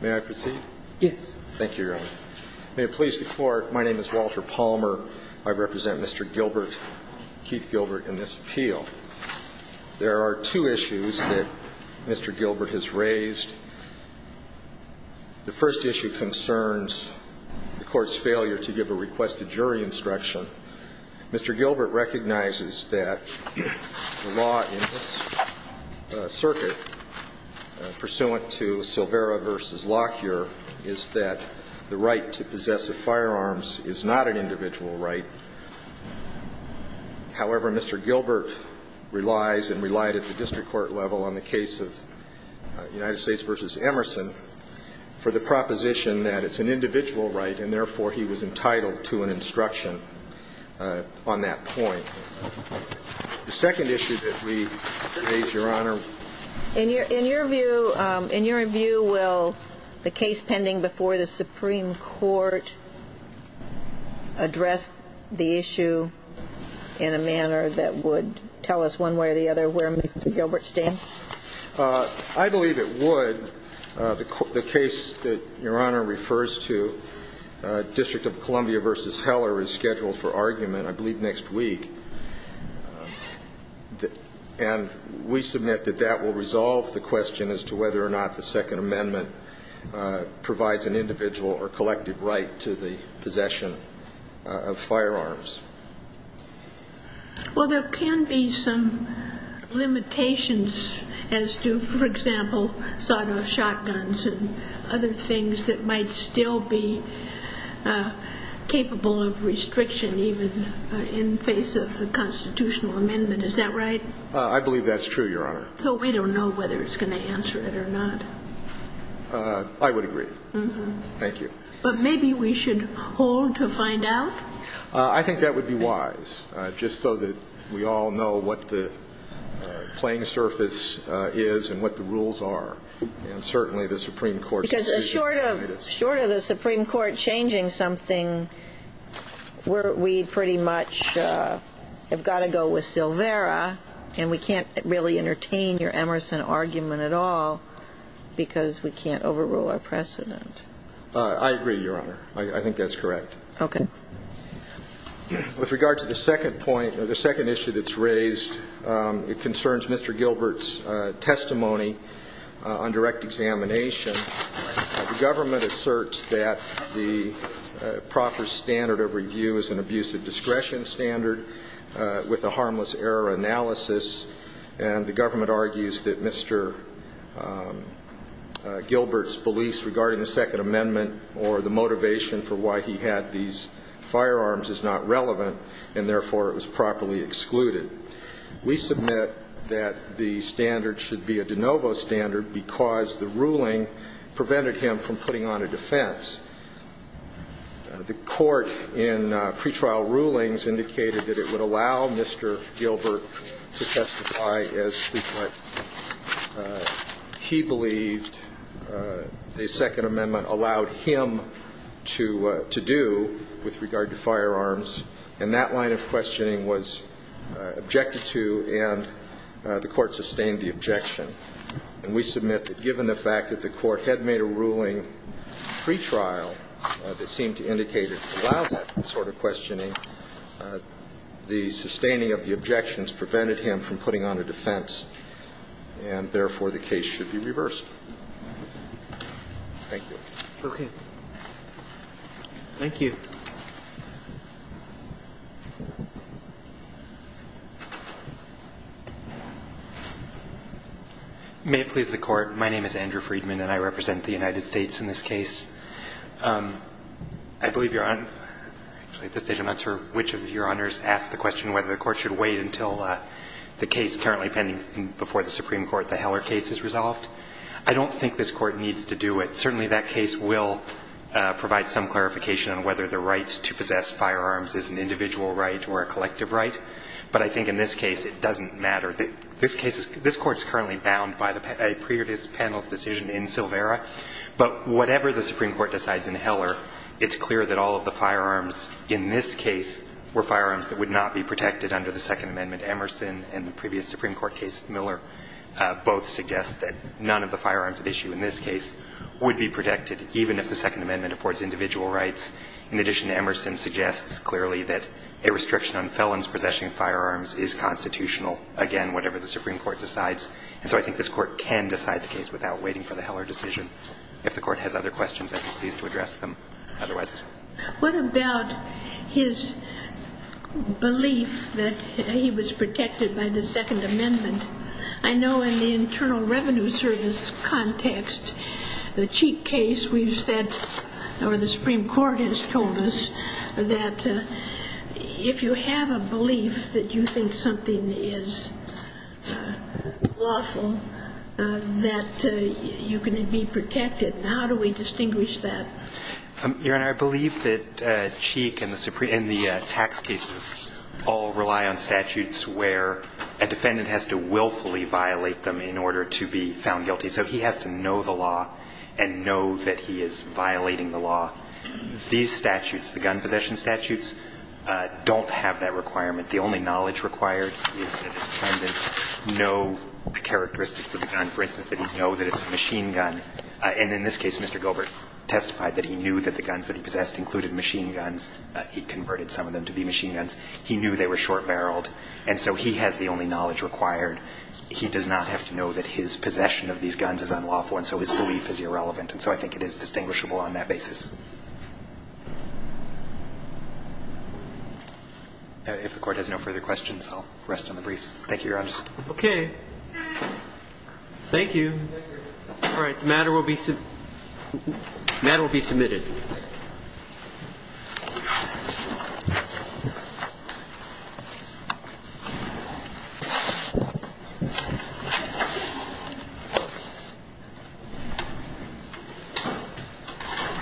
May I proceed? Yes. Thank you, Your Honor. May it please the Court, my name is Walter Palmer. I represent Mr. Gilbert, Keith Gilbert, in this appeal. There are two issues that Mr. Gilbert has raised. The first issue concerns the Court's failure to give a request to jury instruction. Mr. Gilbert recognizes that the law in this circuit pursuant to Silvera v. Lockyer is that the right to possess a firearm is not an individual right. However, Mr. Gilbert relies and relied at the district court level on the case of United States v. Emerson for the proposition that it's an individual right and therefore he was entitled to an instruction on that point. The second issue that we raise, Your Honor In your view, in your view, will the case pending before the Supreme Court address the issue in a manner that would tell us one way or the other where Mr. Gilbert stands? I believe it would. The case that Your Honor refers to, District of Columbia v. Heller is scheduled for argument, I believe, next week. And we submit that that will resolve the question as to whether or not the Second Amendment provides an individual or collective right to the possession of firearms. Well, there can be some limitations as to, for example, sawn-off shotguns and other things that might still be capable of restriction even in face of the constitutional amendment. Is that right? I believe that's true, Your Honor. So we don't know whether it's going to answer it or not. I would agree. Thank you. But maybe we should hold to find out? I think that would be wise, just so that we all know what the playing surface is and what the rules are. And certainly, the Supreme Court's decision on it is. Because short of the Supreme Court changing something, we pretty much have got to go with Silvera, and we can't really entertain your Emerson argument at all because we can't overrule our precedent. I agree, Your Honor. I think that's correct. Okay. With regard to the second point, the second issue that's raised, it concerns Mr. Gilbert's testimony on direct examination. The government asserts that the proper standard of review is an abusive discretion standard with a harmless error analysis, and the government argues that Mr. Gilbert's beliefs regarding the Second Amendment or the motivation for why he had these firearms is not relevant, and therefore, it was properly excluded. We submit that the standard should be a de novo standard because the ruling prevented him from putting on a defense. The court in pretrial rulings indicated that it would allow Mr. Gilbert to testify as that line of questioning was objected to, and the court sustained the objection. And we submit that given the fact that the court had made a ruling pretrial that seemed to indicate it allowed that sort of questioning, the sustaining of the objections prevented him from putting on a defense, and therefore, the case should be reversed. Thank you. Okay. Thank you. May it please the Court. My name is Andrew Freedman, and I represent the United States in this case. I believe Your Honor – at this stage, I'm not sure which of Your Honors asked the question whether the court should wait until the case currently pending before the Supreme Court, the Heller case, is resolved. I don't think this Court needs to do it. Certainly, that case will provide some clarification on whether the right to possess firearms is an individual right or a collective right, but I think in this case, it doesn't matter. This case is – this Court is currently bound by the previous panel's decision in Silvera, but whatever the Supreme Court decides in Heller, it's clear that all of the firearms in this case were firearms that would not be protected under the Second Amendment. Emerson and the previous Supreme Court case, Miller, both suggest that none of the firearms at issue in this case would be protected, even if the Second Amendment affords individual rights. In addition, Emerson suggests clearly that a restriction on felons possessing firearms is constitutional, again, whatever the Supreme Court decides. And so I think this Court can decide the case without waiting for the Heller decision. If the Court has other questions, I'd be pleased to address them. Otherwise – What about his belief that he was protected by the Second Amendment? I know in the Internal Revenue Service context, the Cheek case, we've said – or the Supreme Court has told us that if you have a belief that you think something is lawful, that you can be protected. How do we distinguish that? Your Honor, I believe that Cheek and the Supreme – and the tax cases all rely on statutes where a defendant has to willfully violate them in order to be found guilty. So he has to know the law and know that he is violating the law. These statutes, the gun possession statutes, don't have that requirement. The only knowledge required is that the defendant know the characteristics of the gun. For instance, that he know that it's a machine gun. And in this case, Mr. Gilbert testified that he knew that the guns that he possessed included machine guns. He converted some of them to be machine guns. He knew they were short-barreled. And so he has the only knowledge required. He does not have to know that his possession of these guns is unlawful, and so his belief is irrelevant. And so I think it is distinguishable on that basis. If the Court has no further questions, I'll rest on the briefs. Thank you, Your Honor. Okay. Thank you. Thank you.